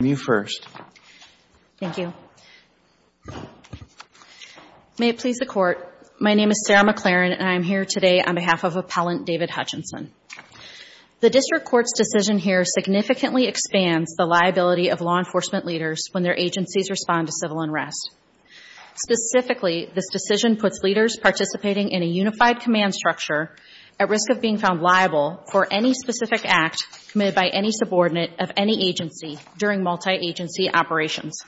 May it please the Court, my name is Sarah McLaren and I am here today on behalf of Appellant David Hutchinson. The District Court's decision here significantly expands the liability of law enforcement leaders when their agencies respond to civil unrest. Specifically, this decision puts leaders participating in a unified command structure at risk of being found liable for any specific act committed by any subordinate of any agency during multi-agency operations.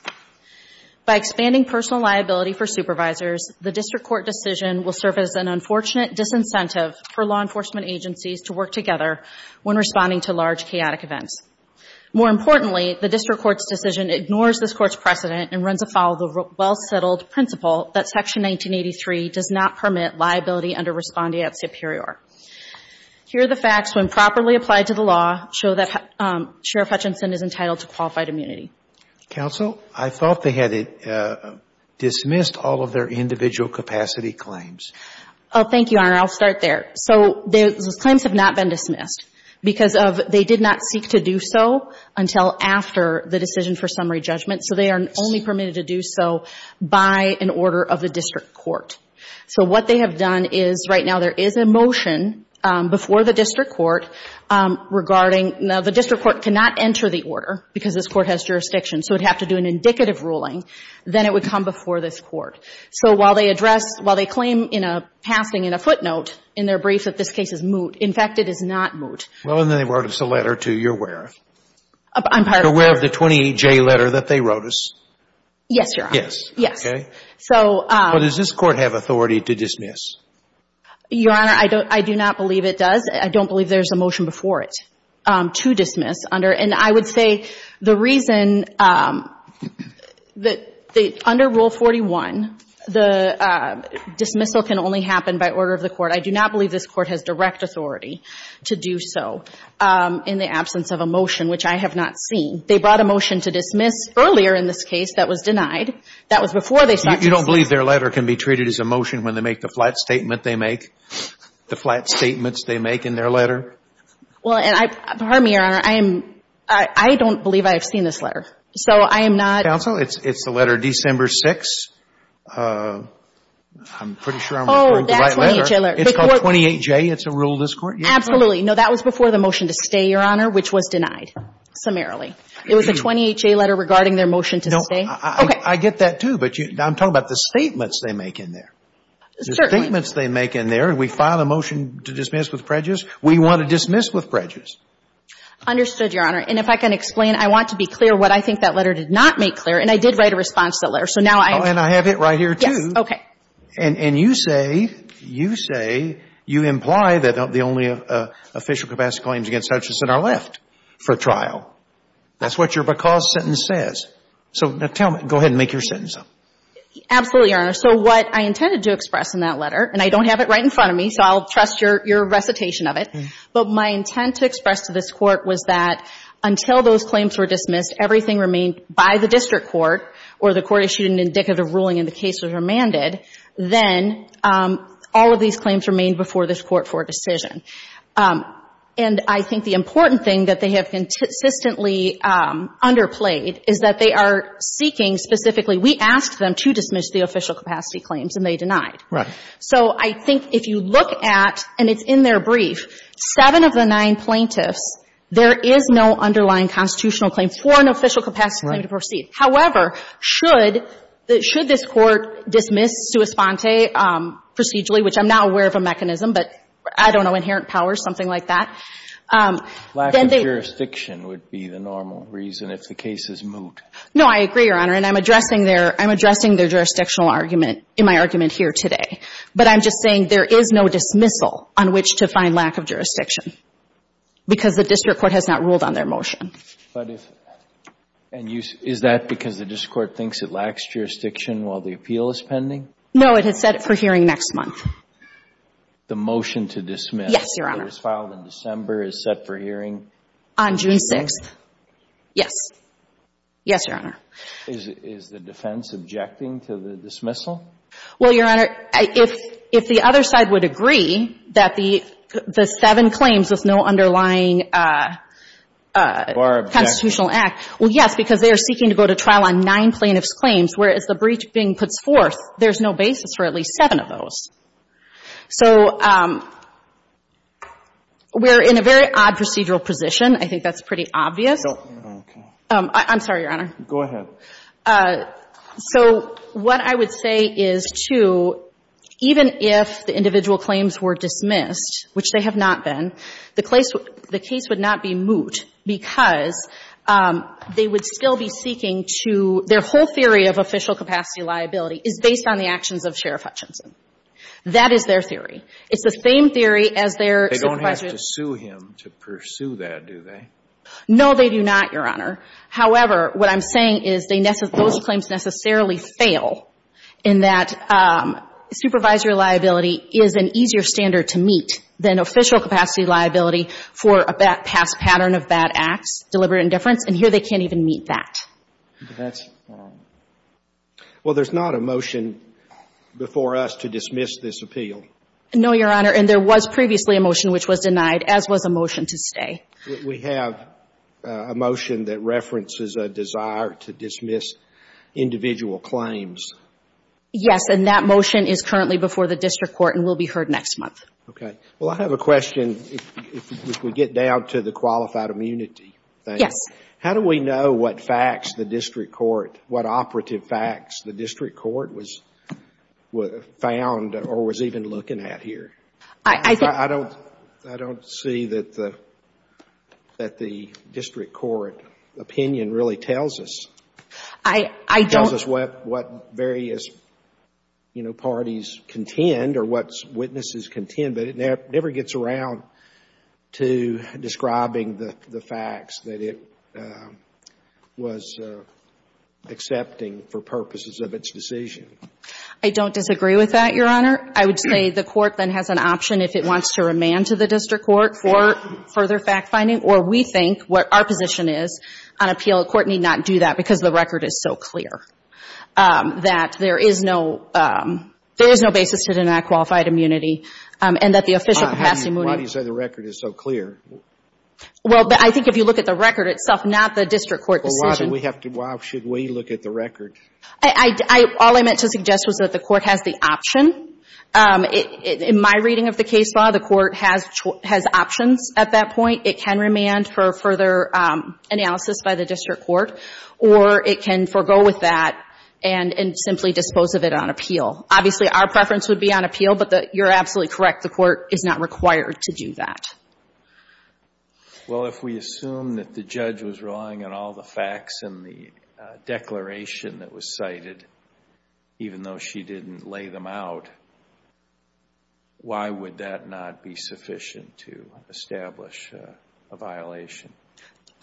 By expanding personal liability for supervisors, the District Court decision will serve as an unfortunate disincentive for law enforcement agencies to work together when responding to large chaotic events. More importantly, the District Court's decision ignores this Court's precedent and runs afoul of the well-settled principle that Section 1983 does not permit liability under respondeat superior. Here are the facts, when properly applied to the law, show that Sheriff Hutchinson is entitled to qualified immunity. Counsel, I thought they had dismissed all of their individual capacity claims. Oh, thank you, Your Honor, I'll start there. So those claims have not been dismissed because of they did not seek to do so until after the decision for summary judgment, so they are only permitted to do so by an order of the District Court. So what they have done is, right now there is a motion before the District Court regarding now the District Court cannot enter the order because this Court has jurisdiction, so it would have to do an indicative ruling, then it would come before this Court. So while they address, while they claim in a passing in a footnote in their brief that this case is moot, in fact, it is not moot. Well, and then they wrote us a letter, too, you're aware of? I'm pardon? You're aware of the 28J letter that they wrote us? Yes, Your Honor. Yes. Yes. Okay. But does this Court have authority to dismiss? Your Honor, I do not believe it does. I don't believe there is a motion before it to dismiss under and I would say the reason that under Rule 41, the dismissal can only happen by order of the Court. I do not believe this Court has direct authority to do so in the absence of a motion, which I have not seen. They brought a motion to dismiss earlier in this case that was denied. That was before they started to dismiss. You don't believe their letter can be treated as a motion when they make the flat statement they make, the flat statements they make in their letter? Well, and I, pardon me, Your Honor, I am, I don't believe I have seen this letter. So I am not. Counsel, it's the letter December 6, I'm pretty sure I'm referring to the right letter. Oh, that 28J letter. It's called 28J. It's a rule of this Court? Absolutely. No, that was before the motion to stay, Your Honor, which was denied, summarily. It was a 28J letter regarding their motion to stay? No. Okay. I get that, too, but I'm talking about the statements they make in there. Certainly. The statements they make in there, and we file a motion to dismiss with prejudice. We want to dismiss with prejudice. Understood, Your Honor. And if I can explain, I want to be clear what I think that letter did not make clear, and I did write a response to that letter. So now I have it. Oh, and I have it right here, too. Yes. Okay. And you say, you say, you imply that the only official capacity claims against Hutchison are left for trial. That's what your because sentence says. So now tell me, go ahead and make your sentence up. Absolutely, Your Honor. So what I intended to express in that letter, and I don't have it right in front of me, so I'll trust your recitation of it, but my intent to express to this Court was that until those claims were dismissed, everything remained by the district court, or the court issued an indicative ruling and the case was remanded, then all of these claims remained before this Court for a decision. And I think the important thing that they have consistently underplayed is that they are seeking specifically, we asked them to dismiss the official capacity claims and they denied. Right. So I think if you look at, and it's in their brief, seven of the nine plaintiffs, there is no underlying constitutional claim for an official capacity claim to proceed. However, should this Court dismiss sua sponte procedurally, which I'm not aware of a mechanism, but I don't know, inherent power, something like that. Lack of jurisdiction would be the normal reason if the case is moved. No, I agree, Your Honor. And I'm addressing their jurisdictional argument in my argument here today. But I'm just saying there is no dismissal on which to find lack of jurisdiction because the district court has not ruled on their motion. But if, and is that because the district court thinks it lacks jurisdiction while the appeal is pending? No, it has said it for hearing next month. The motion to dismiss. Yes, Your Honor. It was filed in December, is set for hearing. On June 6th. Yes. Yes, Your Honor. Is the defense objecting to the dismissal? Well, Your Honor, if the other side would agree that the seven claims with no underlying constitutional act. Well, yes, because they are seeking to go to trial on nine plaintiffs' claims, whereas the brief being put forth, there's no basis for at least seven of those. So we're in a very odd procedural position. I think that's pretty obvious. I don't know. I'm sorry, Your Honor. Go ahead. So what I would say is, too, even if the individual claims were dismissed, which they have not been, the case would not be moot because they would still be seeking to, their whole theory of official capacity liability is based on the That is their theory. It's the same theory as their supervisor's. They don't have to sue him to pursue that, do they? No, they do not, Your Honor. However, what I'm saying is those claims necessarily fail in that supervisor liability is an easier standard to meet than official capacity liability for a past pattern of bad acts, deliberate indifference, and here they can't even meet that. That's wrong. Well, there's not a motion before us to dismiss this appeal. No, Your Honor. And there was previously a motion which was denied, as was a motion to stay. We have a motion that references a desire to dismiss individual claims. Yes, and that motion is currently before the district court and will be heard next month. OK. Well, I have a question. If we get down to the qualified immunity thing. Yes. How do we know what facts the district court, what operative facts the district court was found or was even looking at here? I don't see that the district court opinion really tells us. It tells us what various parties contend or what witnesses contend, but it never gets around to describing the facts that it was accepting for purposes of its decision. I don't disagree with that, Your Honor. I would say the court then has an option if it wants to remand to the district court for further fact-finding, or we think what our position is on appeal. The court need not do that because the record is so clear that there is no basis to the not qualified immunity and that the official capacity mooting. Why do you say the record is so clear? Well, I think if you look at the record itself, not the district court decision. Well, why should we look at the record? All I meant to suggest was that the court has the option. In my reading of the case law, the court has options at that point. It can remand for further analysis by the district court, or it can forego with that and simply dispose of it on appeal. Obviously, our preference would be on appeal, but you're absolutely correct. The court is not required to do that. Well, if we assume that the judge was relying on all the facts in the declaration that was cited, even though she didn't lay them out, why would that not be sufficient to establish a violation?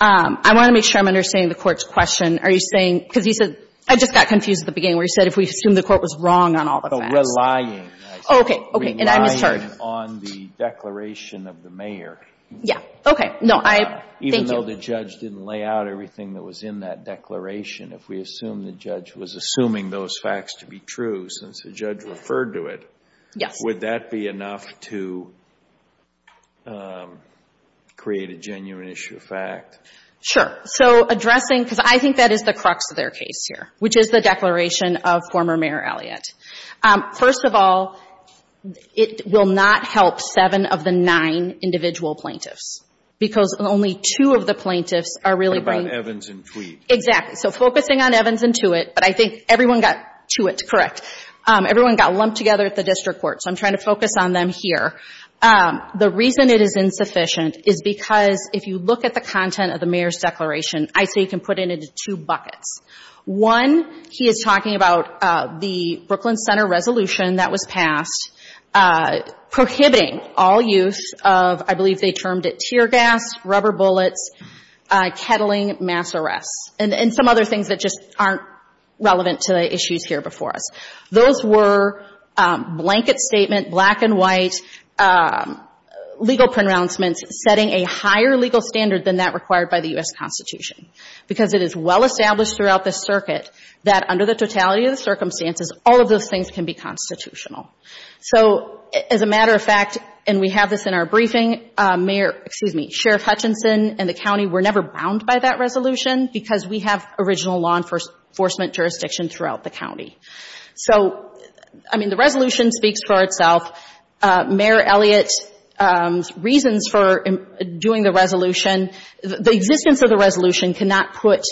I want to make sure I'm understanding the court's question. Are you saying, because you said, I just got confused at the beginning where you assumed the court was wrong on all the facts. But relying. Oh, okay. And I misheard. Relying on the declaration of the mayor. Yeah. Okay. No, I. Thank you. Even though the judge didn't lay out everything that was in that declaration, if we assume the judge was assuming those facts to be true since the judge referred to it. Yes. Would that be enough to create a genuine issue of fact? Sure. So addressing, because I think that is the crux of their case here, which is the declaration of former Mayor Elliott. First of all, it will not help seven of the nine individual plaintiffs. Because only two of the plaintiffs are really. What about Evans and Tweed? Exactly. So focusing on Evans and Tweed, but I think everyone got Tweed correct. Everyone got lumped together at the district court. So I'm trying to focus on them here. The reason it is insufficient is because if you look at the content of the mayor's declaration, I say you can put it into two buckets. One, he is talking about the Brooklyn Center resolution that was passed prohibiting all use of, I believe they termed it tear gas, rubber bullets, kettling, mass arrests, and some other things that just aren't relevant to the issues here before us. Those were blanket statement, black and white, legal pronouncements, setting a higher legal standard than that required by the U.S. Constitution. Because it is well established throughout the circuit that under the totality of the circumstances, all of those things can be constitutional. So as a matter of fact, and we have this in our briefing, Sheriff Hutchinson and the county were never bound by that resolution because we have original law enforcement jurisdiction throughout the county. So the resolution speaks for itself. Mayor Elliott's reasons for doing the resolution, the existence of the resolution cannot put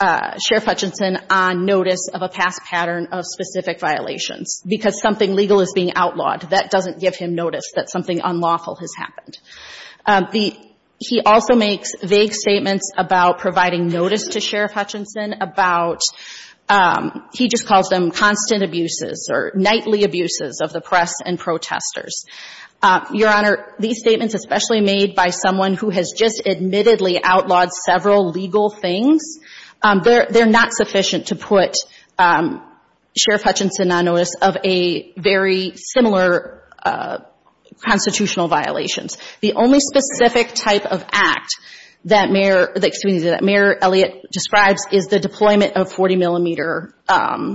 Sheriff Hutchinson on notice of a past pattern of specific violations because something legal is being outlawed. That doesn't give him notice that something unlawful has happened. He also makes vague statements about providing notice to Sheriff Hutchinson about, he just calls them constant abuses or nightly abuses of the press and protesters. Your Honor, these statements especially made by someone who has just admittedly outlawed several legal things, they're not sufficient to put Sheriff Hutchinson on notice of a very similar constitutional violations. The only specific type of act that Mayor, excuse me, that Mayor Elliott describes is the deployment of 40-millimeter,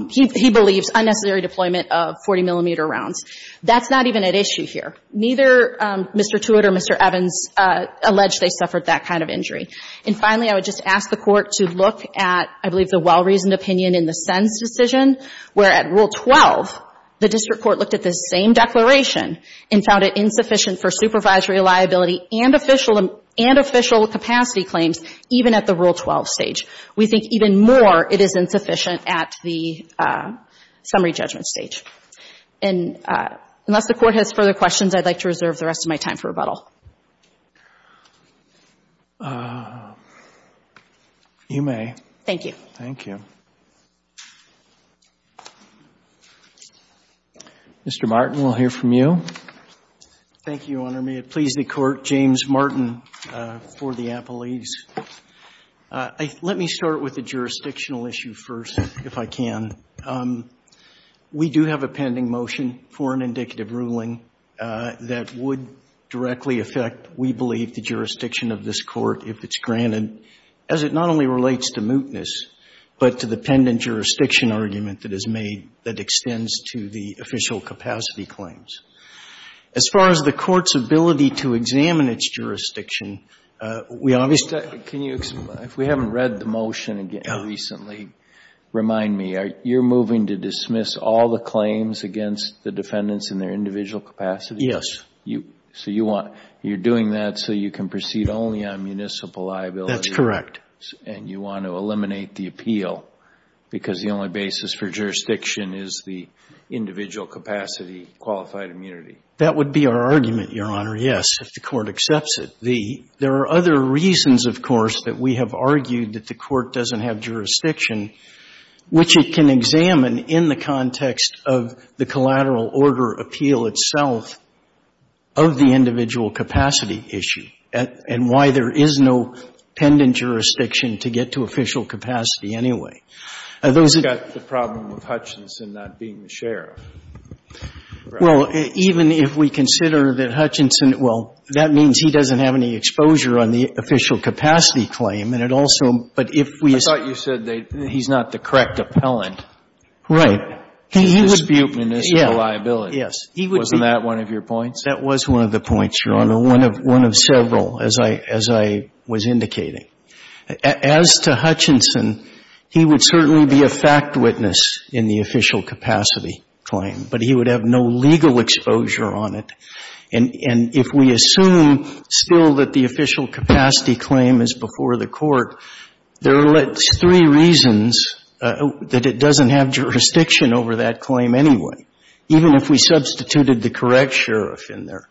he believes, unnecessary deployment of 40-millimeter rounds. That's not even at issue here. Neither Mr. Tewitt or Mr. Evans allege they suffered that kind of injury. And finally, I would just ask the Court to look at, I believe, the well-reasoned opinion in the Senn's decision where at Rule 12, the district court looked at the same declaration and found it insufficient for supervisory liability and official capacity claims even at the Rule 12 stage. We think even more it is insufficient at the summary judgment stage. And unless the Court has further questions, I'd like to reserve the rest of my time for rebuttal. You may. Thank you. Thank you. Mr. Martin, we'll hear from you. Thank you, Your Honor. May it please the Court, James Martin for the apologies. Let me start with the jurisdictional issue first, if I can. We do have a pending motion for an indicative ruling that would directly affect, we believe, the jurisdiction of this Court if it's granted, as it not only relates to mootness, but to the pendant jurisdiction argument that is made that extends to the official capacity claims. As far as the Court's ability to examine its jurisdiction, we obviously can you, if we haven't read the motion again recently, remind me, you're moving to dismiss all the claims against the defendants in their individual capacity? Yes. You, so you want, you're doing that so you can proceed only on municipal liability? That's correct. That would be our argument, Your Honor, yes, if the Court accepts it. The, there are other reasons, of course, that we have argued that the Court doesn't have jurisdiction, which it can examine in the context of the collateral order appeal itself of the individual capacity issue, and why there is no pendant jurisdiction to get to official capacity anyway. Those are the problems with Hutchinson not being the sheriff. Well, even if we consider that Hutchinson, well, that means he doesn't have any exposure on the official capacity claim, and it also, but if we. I thought you said that he's not the correct appellant. Right. He would be a municipal liability. Yes. He would be. Wasn't that one of your points? That was one of the points, Your Honor, one of several, as I was indicating. As to Hutchinson, he would certainly be a fact witness in the official capacity claim, but he would have no legal exposure on it. And if we assume still that the official capacity claim is before the Court, there are at least three reasons that it doesn't have jurisdiction over that claim anyway, even if we substituted the correct sheriff in there.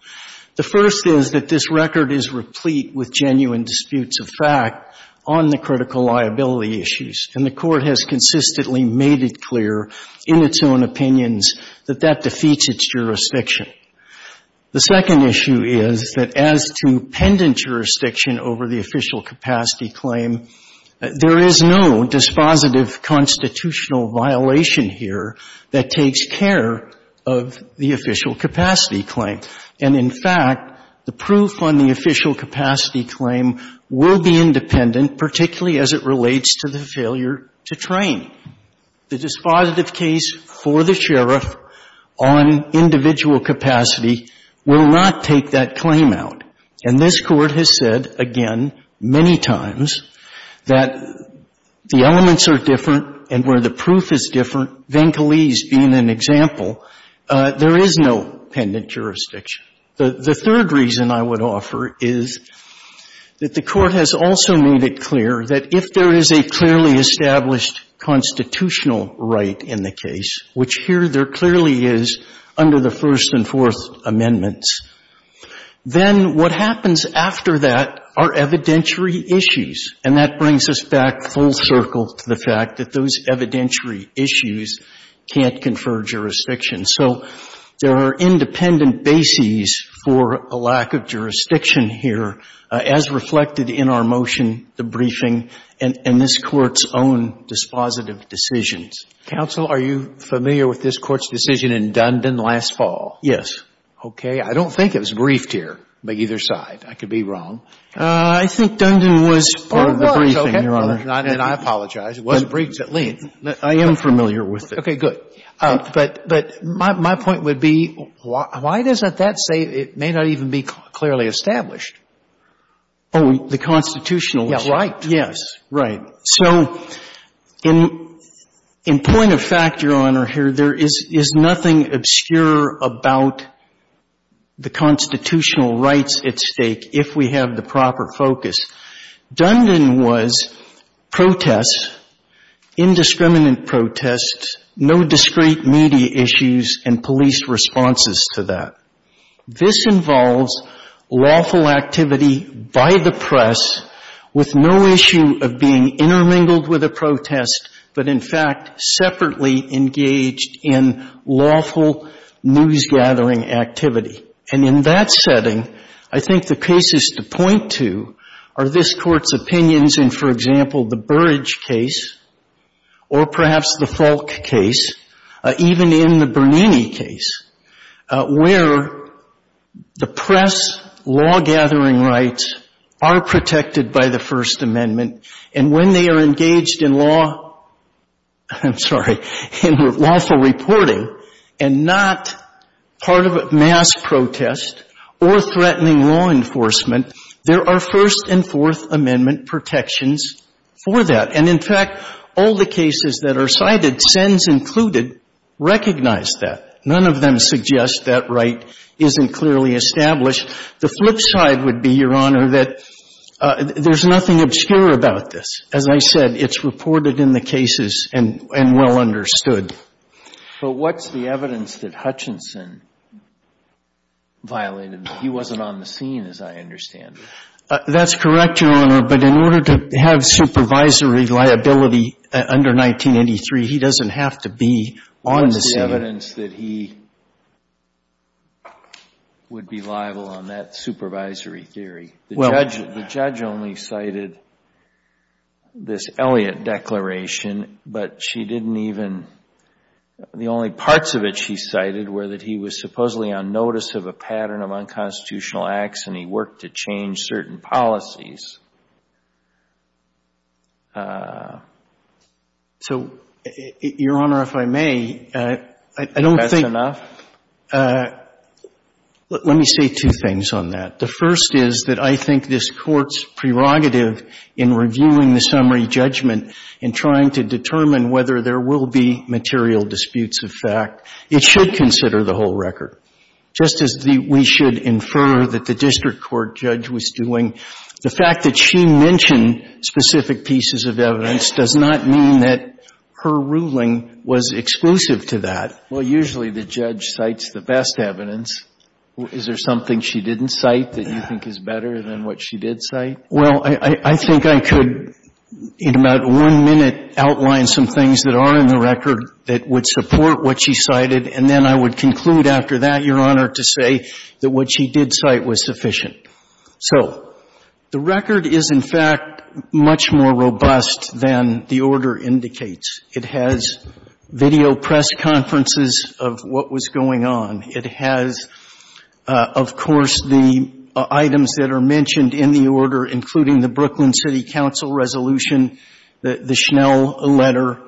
The first is that this record is replete with genuine disputes of fact on the critical liability issues, and the Court has consistently made it clear in its own opinions that that defeats its jurisdiction. The second issue is that as to pendant jurisdiction over the official capacity claim, there is no dispositive constitutional violation here that takes care of the official capacity claim. And in fact, the proof on the official capacity claim will be independent, particularly as it relates to the failure to train. The dispositive case for the sheriff on individual capacity will not take that claim out. And this Court has said, again, many times, that the elements are different, and where the proof is different, Venkalese being an example, there is no pendant jurisdiction. The third reason I would offer is that the Court has also made it clear that if there is a clearly established constitutional right in the case, which here there clearly is under the First and Fourth Amendments, then what happens after that are evidentiary issues. And that brings us back full circle to the fact that those evidentiary issues can't confer jurisdiction. So there are independent bases for a lack of jurisdiction here, as reflected in our motion, the briefing, and this Court's own dispositive decisions. Roberts. Are you familiar with this Court's decision in Dundon last fall? Yes. Okay. I don't think it was briefed here by either side. I could be wrong. I think Dundon was part of the briefing, Your Honor. And I apologize. It was briefed at length. I am familiar with it. Okay, good. But my point would be, why does that say it may not even be clearly established? Oh, the constitutional right. Yes. Right. So in point of fact, Your Honor, here, there is nothing obscure about the constitutional rights at stake if we have the proper focus. Dundon was protests, indiscriminate protests, no discrete media issues, and police responses to that. This involves lawful activity by the press with no issue of being intermingled with a protest, but, in fact, separately engaged in lawful news gathering activity. And in that setting, I think the cases to point to are this Court's opinions in, for example, the Burridge case or perhaps the Falk case, even in the Bernini case, where the press law-gathering rights are protected by the First Amendment, and when they are engaged in lawful reporting and not part of a mass protest or threatening law enforcement, there are First and Fourth Amendment protections for that. And, in fact, all the cases that are cited, SENS included, recognize that. None of them suggest that right isn't clearly established. The flip side would be, Your Honor, that there's nothing obscure about this. As I said, it's reported in the cases and well understood. But what's the evidence that Hutchinson violated? He wasn't on the scene, as I understand it. That's correct, Your Honor, but in order to have supervisory liability under 1983, he doesn't have to be on the scene. What's the evidence that he would be liable on that supervisory theory? The judge only cited this Elliott declaration, but she didn't even — the only parts of it she cited were that he was supposedly on notice of a pattern of unconstitutional acts, and he worked to change certain policies. So, Your Honor, if I may, I don't think — That's enough? Let me say two things on that. The first is that I think this Court's prerogative in reviewing the summary judgment in trying to determine whether there will be material disputes of fact, it should consider the whole record. Just as we should infer that the district court judge was doing, the fact that she mentioned specific pieces of evidence does not mean that her ruling was exclusive to that. Well, usually the judge cites the best evidence. Is there something she didn't cite that you think is better than what she did cite? Well, I think I could in about one minute outline some things that are in the record that would support what she cited, and then I would conclude after that, Your Honor, to say that what she did cite was sufficient. So the record is, in fact, much more robust than the order indicates. It has video press conferences of what was going on. It has, of course, the items that are mentioned in the order, including the Brooklyn City Council resolution, the Schnell letter.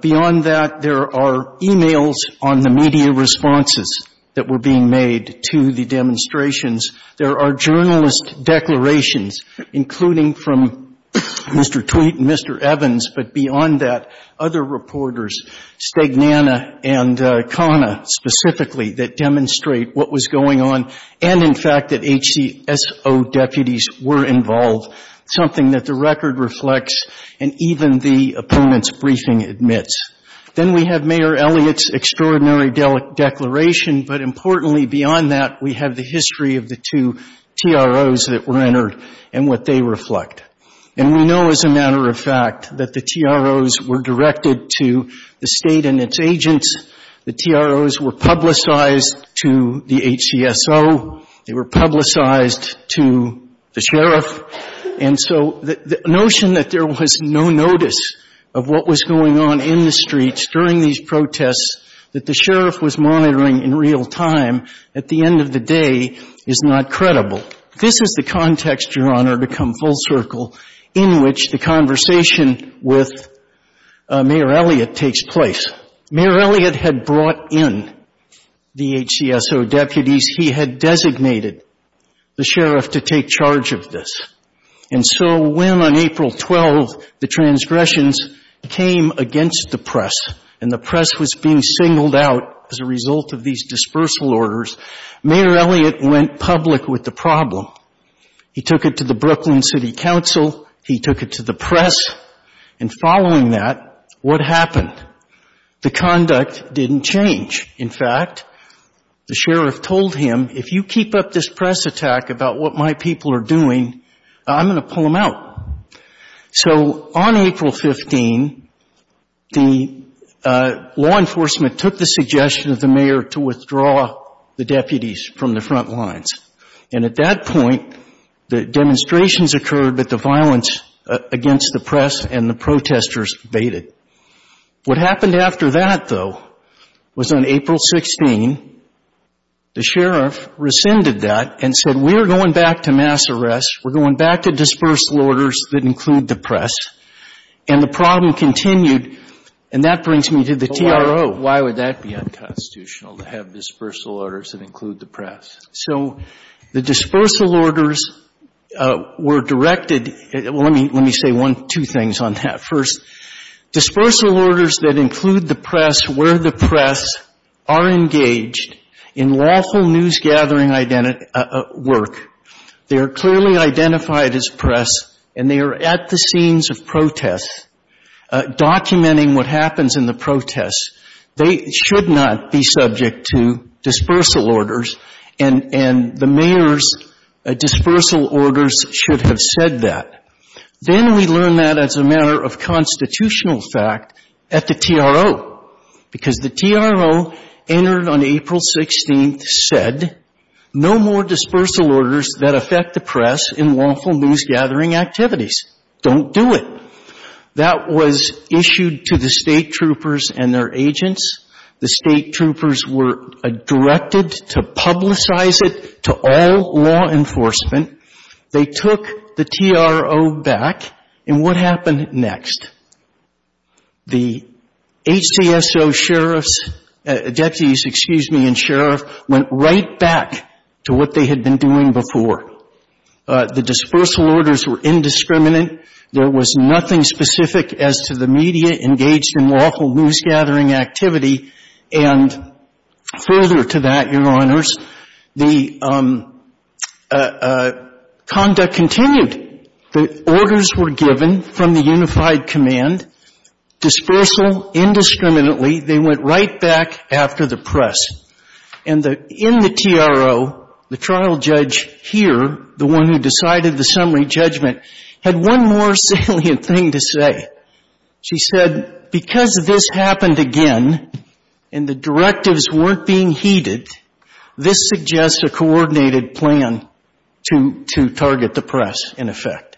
Beyond that, there are e-mails on the media responses that were being made to the demonstrations. There are journalist declarations, including from Mr. Tweet and Mr. Evans, but beyond that, other reporters, Stegnana and Kana specifically, that demonstrate what was going on and, in fact, that HCSO deputies were involved, something that the record reflects and even the opponent's briefing admits. Then we have Mayor Elliott's extraordinary declaration, but importantly, beyond that, we have the history of the two TROs that were entered and what they reflect. And we know, as a matter of fact, that the TROs were directed to the State and its agents. The TROs were publicized to the HCSO. They were publicized to the sheriff. And so the notion that there was no notice of what was going on in the streets during these protests that the sheriff was monitoring in real time at the end of the day is not credible. This is the context, Your Honor, to come full circle, in which the conversation with Mayor Elliott takes place. Mayor Elliott had brought in the HCSO deputies. He had designated the sheriff to take charge of this. And so when, on April 12, the transgressions came against the press and the press was being singled out as a result of these dispersal orders, Mayor Elliott went public with the problem. He took it to the Brooklyn City Council. He took it to the press. And following that, what happened? The conduct didn't change. In fact, the sheriff told him, if you keep up this press attack about what my people are doing, I'm going to pull them out. So on April 15, the law enforcement took the suggestion of the mayor to withdraw the deputies from the front lines. And at that point, the demonstrations occurred, but the violence against the press and the protesters faded. What happened after that, though, was on April 16, the sheriff rescinded that and said, we're going back to mass arrests. We're going back to dispersal orders that include the press. And the problem continued. And that brings me to the TRO. Why would that be unconstitutional to have dispersal orders that include the press? So the dispersal orders were directed, well, let me say one, two things on that. First, dispersal orders that include the press where the press are engaged in lawful news gathering work, they are clearly identified as press and they are at the scenes of protests documenting what happens in the protests. They should not be subject to dispersal orders and the mayor's dispersal orders should have said that. Then we learned that as a matter of constitutional fact at the TRO because the TRO entered on April 16, said no more dispersal orders that affect the press in lawful news gathering activities. Don't do it. That was issued to the state troopers and their agents. The state troopers were directed to publicize it to all law enforcement. They took the TRO back and what happened next? The HTSO sheriffs, deputies, excuse me, and sheriff went right back to what they had been doing before. The dispersal orders were indiscriminate. There was nothing specific as to the media engaged in lawful news gathering activity and further to that, Your Honors, the conduct continued. The orders were given from the unified command, dispersal indiscriminately. They went right back after the press and in the TRO, the trial judge here, the one who had more salient thing to say, she said, because this happened again and the directives weren't being heeded, this suggests a coordinated plan to target the press in effect.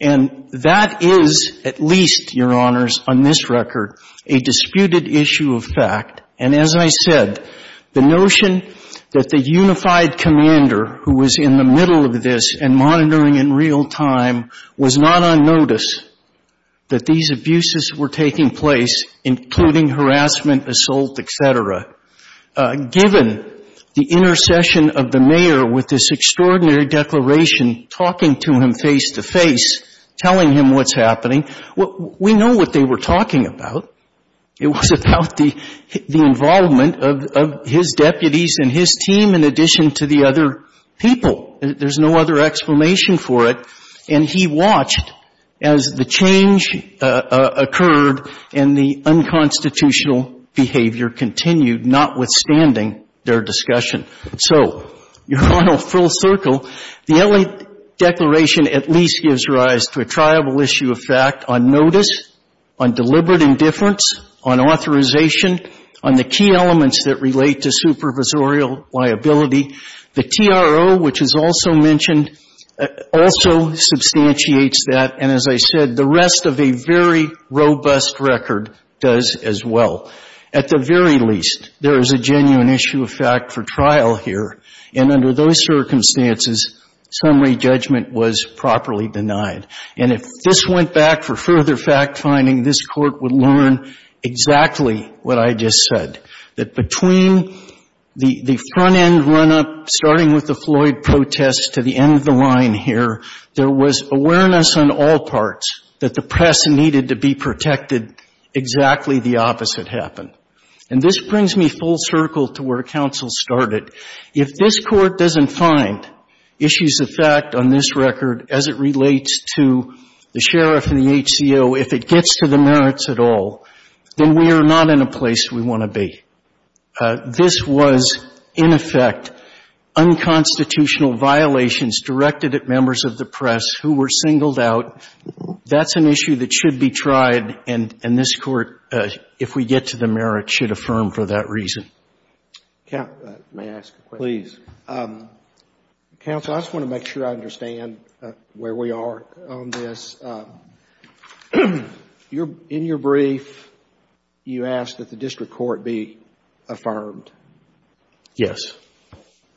And that is at least, Your Honors, on this record, a disputed issue of fact. And as I said, the notion that the unified commander who was in the middle of this and on notice that these abuses were taking place, including harassment, assault, et cetera, given the intercession of the mayor with this extraordinary declaration, talking to him face to face, telling him what's happening, we know what they were talking about. It was about the involvement of his deputies and his team in addition to the other people. There's no other explanation for it. And he watched as the change occurred and the unconstitutional behavior continued, notwithstanding their discussion. So, Your Honor, full circle, the L.A. Declaration at least gives rise to a triable issue of fact on notice, on deliberate indifference, on authorization, on the key elements that relate to supervisorial liability. The TRO, which is also mentioned, also substantiates that. And as I said, the rest of a very robust record does as well. At the very least, there is a genuine issue of fact for trial here. And under those circumstances, summary judgment was properly denied. And if this went back for further fact-finding, this Court would learn exactly what I just said, that between the front-end run-up, starting with the Floyd protests to the end of the line here, there was awareness on all parts that the press needed to be protected. Exactly the opposite happened. And this brings me full circle to where counsel started. If this Court doesn't find issues of fact on this record as it relates to the sheriff and the HCO, if it gets to the merits at all, then we are not in a place we want to be. This was, in effect, unconstitutional violations directed at members of the press who were singled out. That's an issue that should be tried, and this Court, if we get to the merit, should affirm for that reason. May I ask a question? Please. Counsel, I just want to make sure I understand where we are on this. In your brief, you asked that the district court be affirmed. Yes.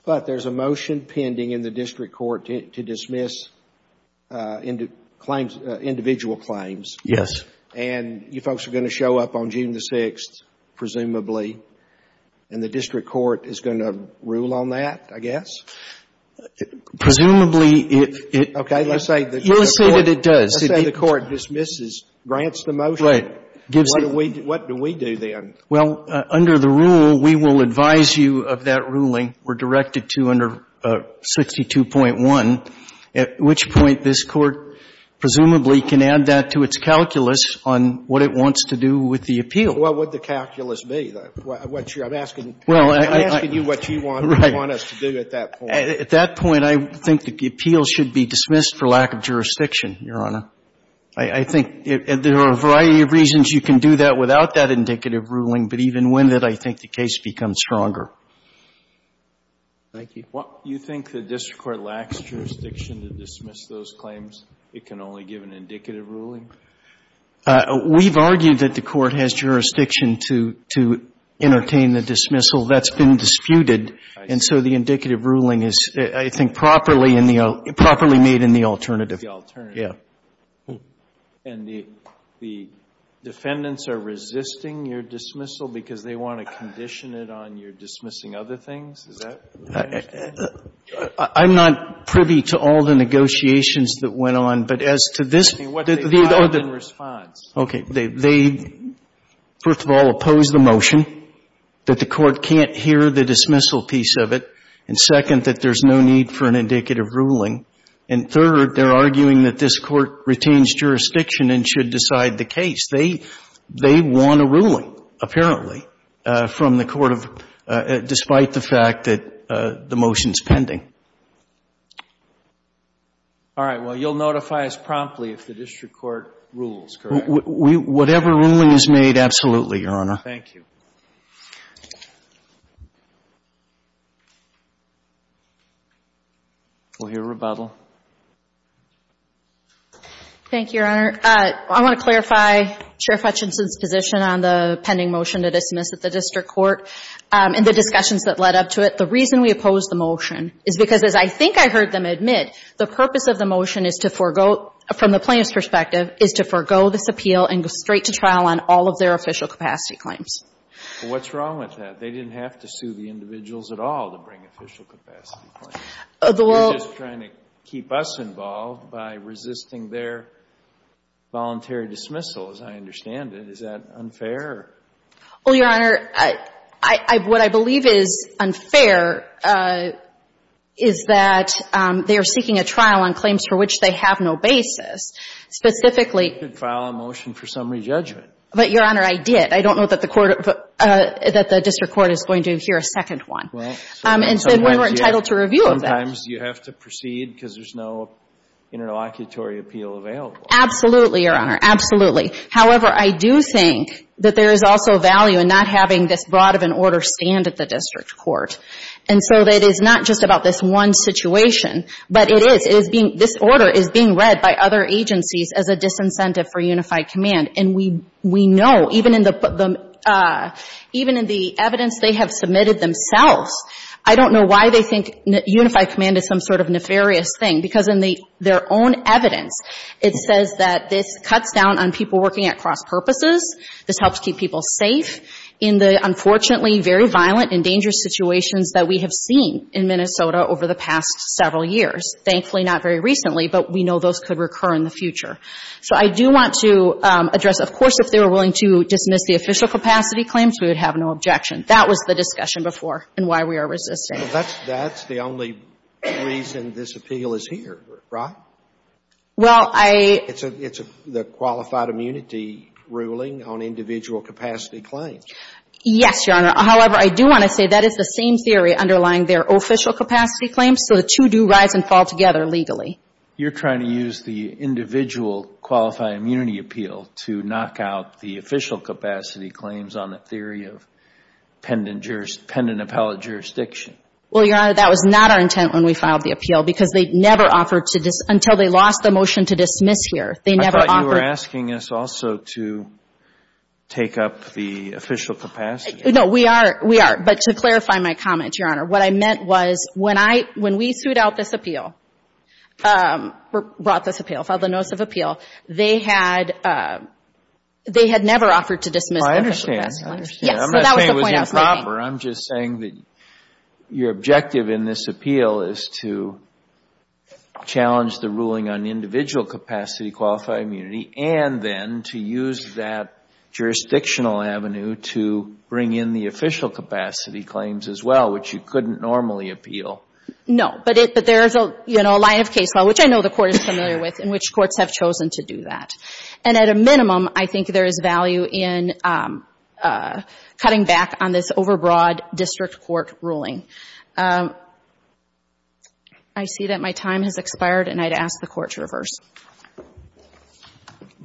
But there's a motion pending in the district court to dismiss individual claims. Yes. And you folks are going to show up on June the 6th, presumably, and the district court is going to rule on that, I guess? Presumably, if it... Okay, let's say... Let's say that it does. Let's say the court dismisses, grants the motion. Right. Gives it... What do we do then? Well, under the rule, we will advise you of that ruling. We're directed to under 62.1, at which point this Court presumably can add that to its calculus on what it wants to do with the appeal. What would the calculus be? I'm asking you what you want us to do at that point. At that point, I think the appeal should be dismissed for lack of jurisdiction, Your Honor. I think there are a variety of reasons you can do that without that indicative ruling, but even when that, I think the case becomes stronger. Thank you. You think the district court lacks jurisdiction to dismiss those claims? It can only give an indicative ruling? We've argued that the court has jurisdiction to entertain the dismissal. That's been disputed. And so the indicative ruling is, I think, properly made in the alternative. The alternative. Yeah. And the defendants are resisting your dismissal because they want to condition it on your dismissing other things? Is that what you're saying? I'm not privy to all the negotiations that went on, but as to this... I'm asking what they have in response. Okay. They, first of all, oppose the motion, that the court can't hear the dismissal piece of it, and second, that there's no need for an indicative ruling, and third, they're arguing that this court retains jurisdiction and should decide the case. They want a ruling, apparently, from the court of... despite the fact that the motion's pending. All right. Well, you'll notify us promptly if the district court rules, correct? Whatever ruling is made, absolutely, Your Honor. Thank you. We'll hear rebuttal. Thank you, Your Honor. I want to clarify Chair Fetchinson's position on the pending motion to dismiss at the district court and the discussions that led up to it. The reason we oppose the motion is because, as I think I heard them admit, the purpose of the motion is to forego, from the plaintiff's perspective, is to forego this appeal and go straight to trial on all of their official capacity claims. Well, what's wrong with that? They didn't have to sue the individuals at all to bring official capacity claims. They're just trying to keep us involved by resisting their voluntary dismissal, as I understand it. Is that unfair? Well, Your Honor, I — what I believe is unfair is that they are seeking a trial on claims for which they have no basis, specifically... You could file a motion for summary judgment. But, Your Honor, I did. I don't know that the court — that the district court is going to hear a second one. Well, so... And so we were entitled to review of that. Sometimes you have to proceed because there's no interlocutory appeal available. Absolutely, Your Honor. Absolutely. However, I do think that there is also value in not having this broad of an order stand at the district court. And so it is not just about this one situation, but it is. It is being — this order is being read by other agencies as a disincentive for unified command. And we know, even in the evidence they have submitted themselves, I don't know why they think unified command is some sort of nefarious thing. Because in their own evidence, it says that this cuts down on people working at cross-purposes. This helps keep people safe in the, unfortunately, very violent and dangerous situations that we have seen in Minnesota over the past several years. Thankfully, not very recently, but we know those could recur in the future. So I do want to address, of course, if they were willing to dismiss the official capacity claims, we would have no objection. That was the discussion before and why we are resisting. That's the only reason this appeal is here, right? Well, I — It's the qualified immunity ruling on individual capacity claims. Yes, Your Honor. However, I do want to say that is the same theory underlying their official capacity claims. So the two do rise and fall together legally. You're trying to use the individual qualified immunity appeal to knock out the official capacity claims on the theory of pendant appellate jurisdiction. Well, Your Honor, that was not our intent when we filed the appeal because they never offered to — until they lost the motion to dismiss here, they never offered — I thought you were asking us also to take up the official capacity. No, we are. We are. But to clarify my comment, Your Honor, what I meant was when I — when we sued out this appeal, brought this appeal, filed the notice of appeal, they had — they had never offered to dismiss the official capacity claims. Well, I understand. I understand. Yes. Well, that was the point I was making. I'm not saying it was improper. I'm just saying that your objective in this appeal is to challenge the ruling on individual capacity qualified immunity and then to use that jurisdictional avenue to bring in the official capacity claims as well, which you couldn't normally appeal. No. But it — but there is a, you know, a line of case law, which I know the court is familiar with, in which courts have chosen to do that. And at a minimum, I think there is value in cutting back on this overbroad district court ruling. I see that my time has expired, and I'd ask the Court to reverse.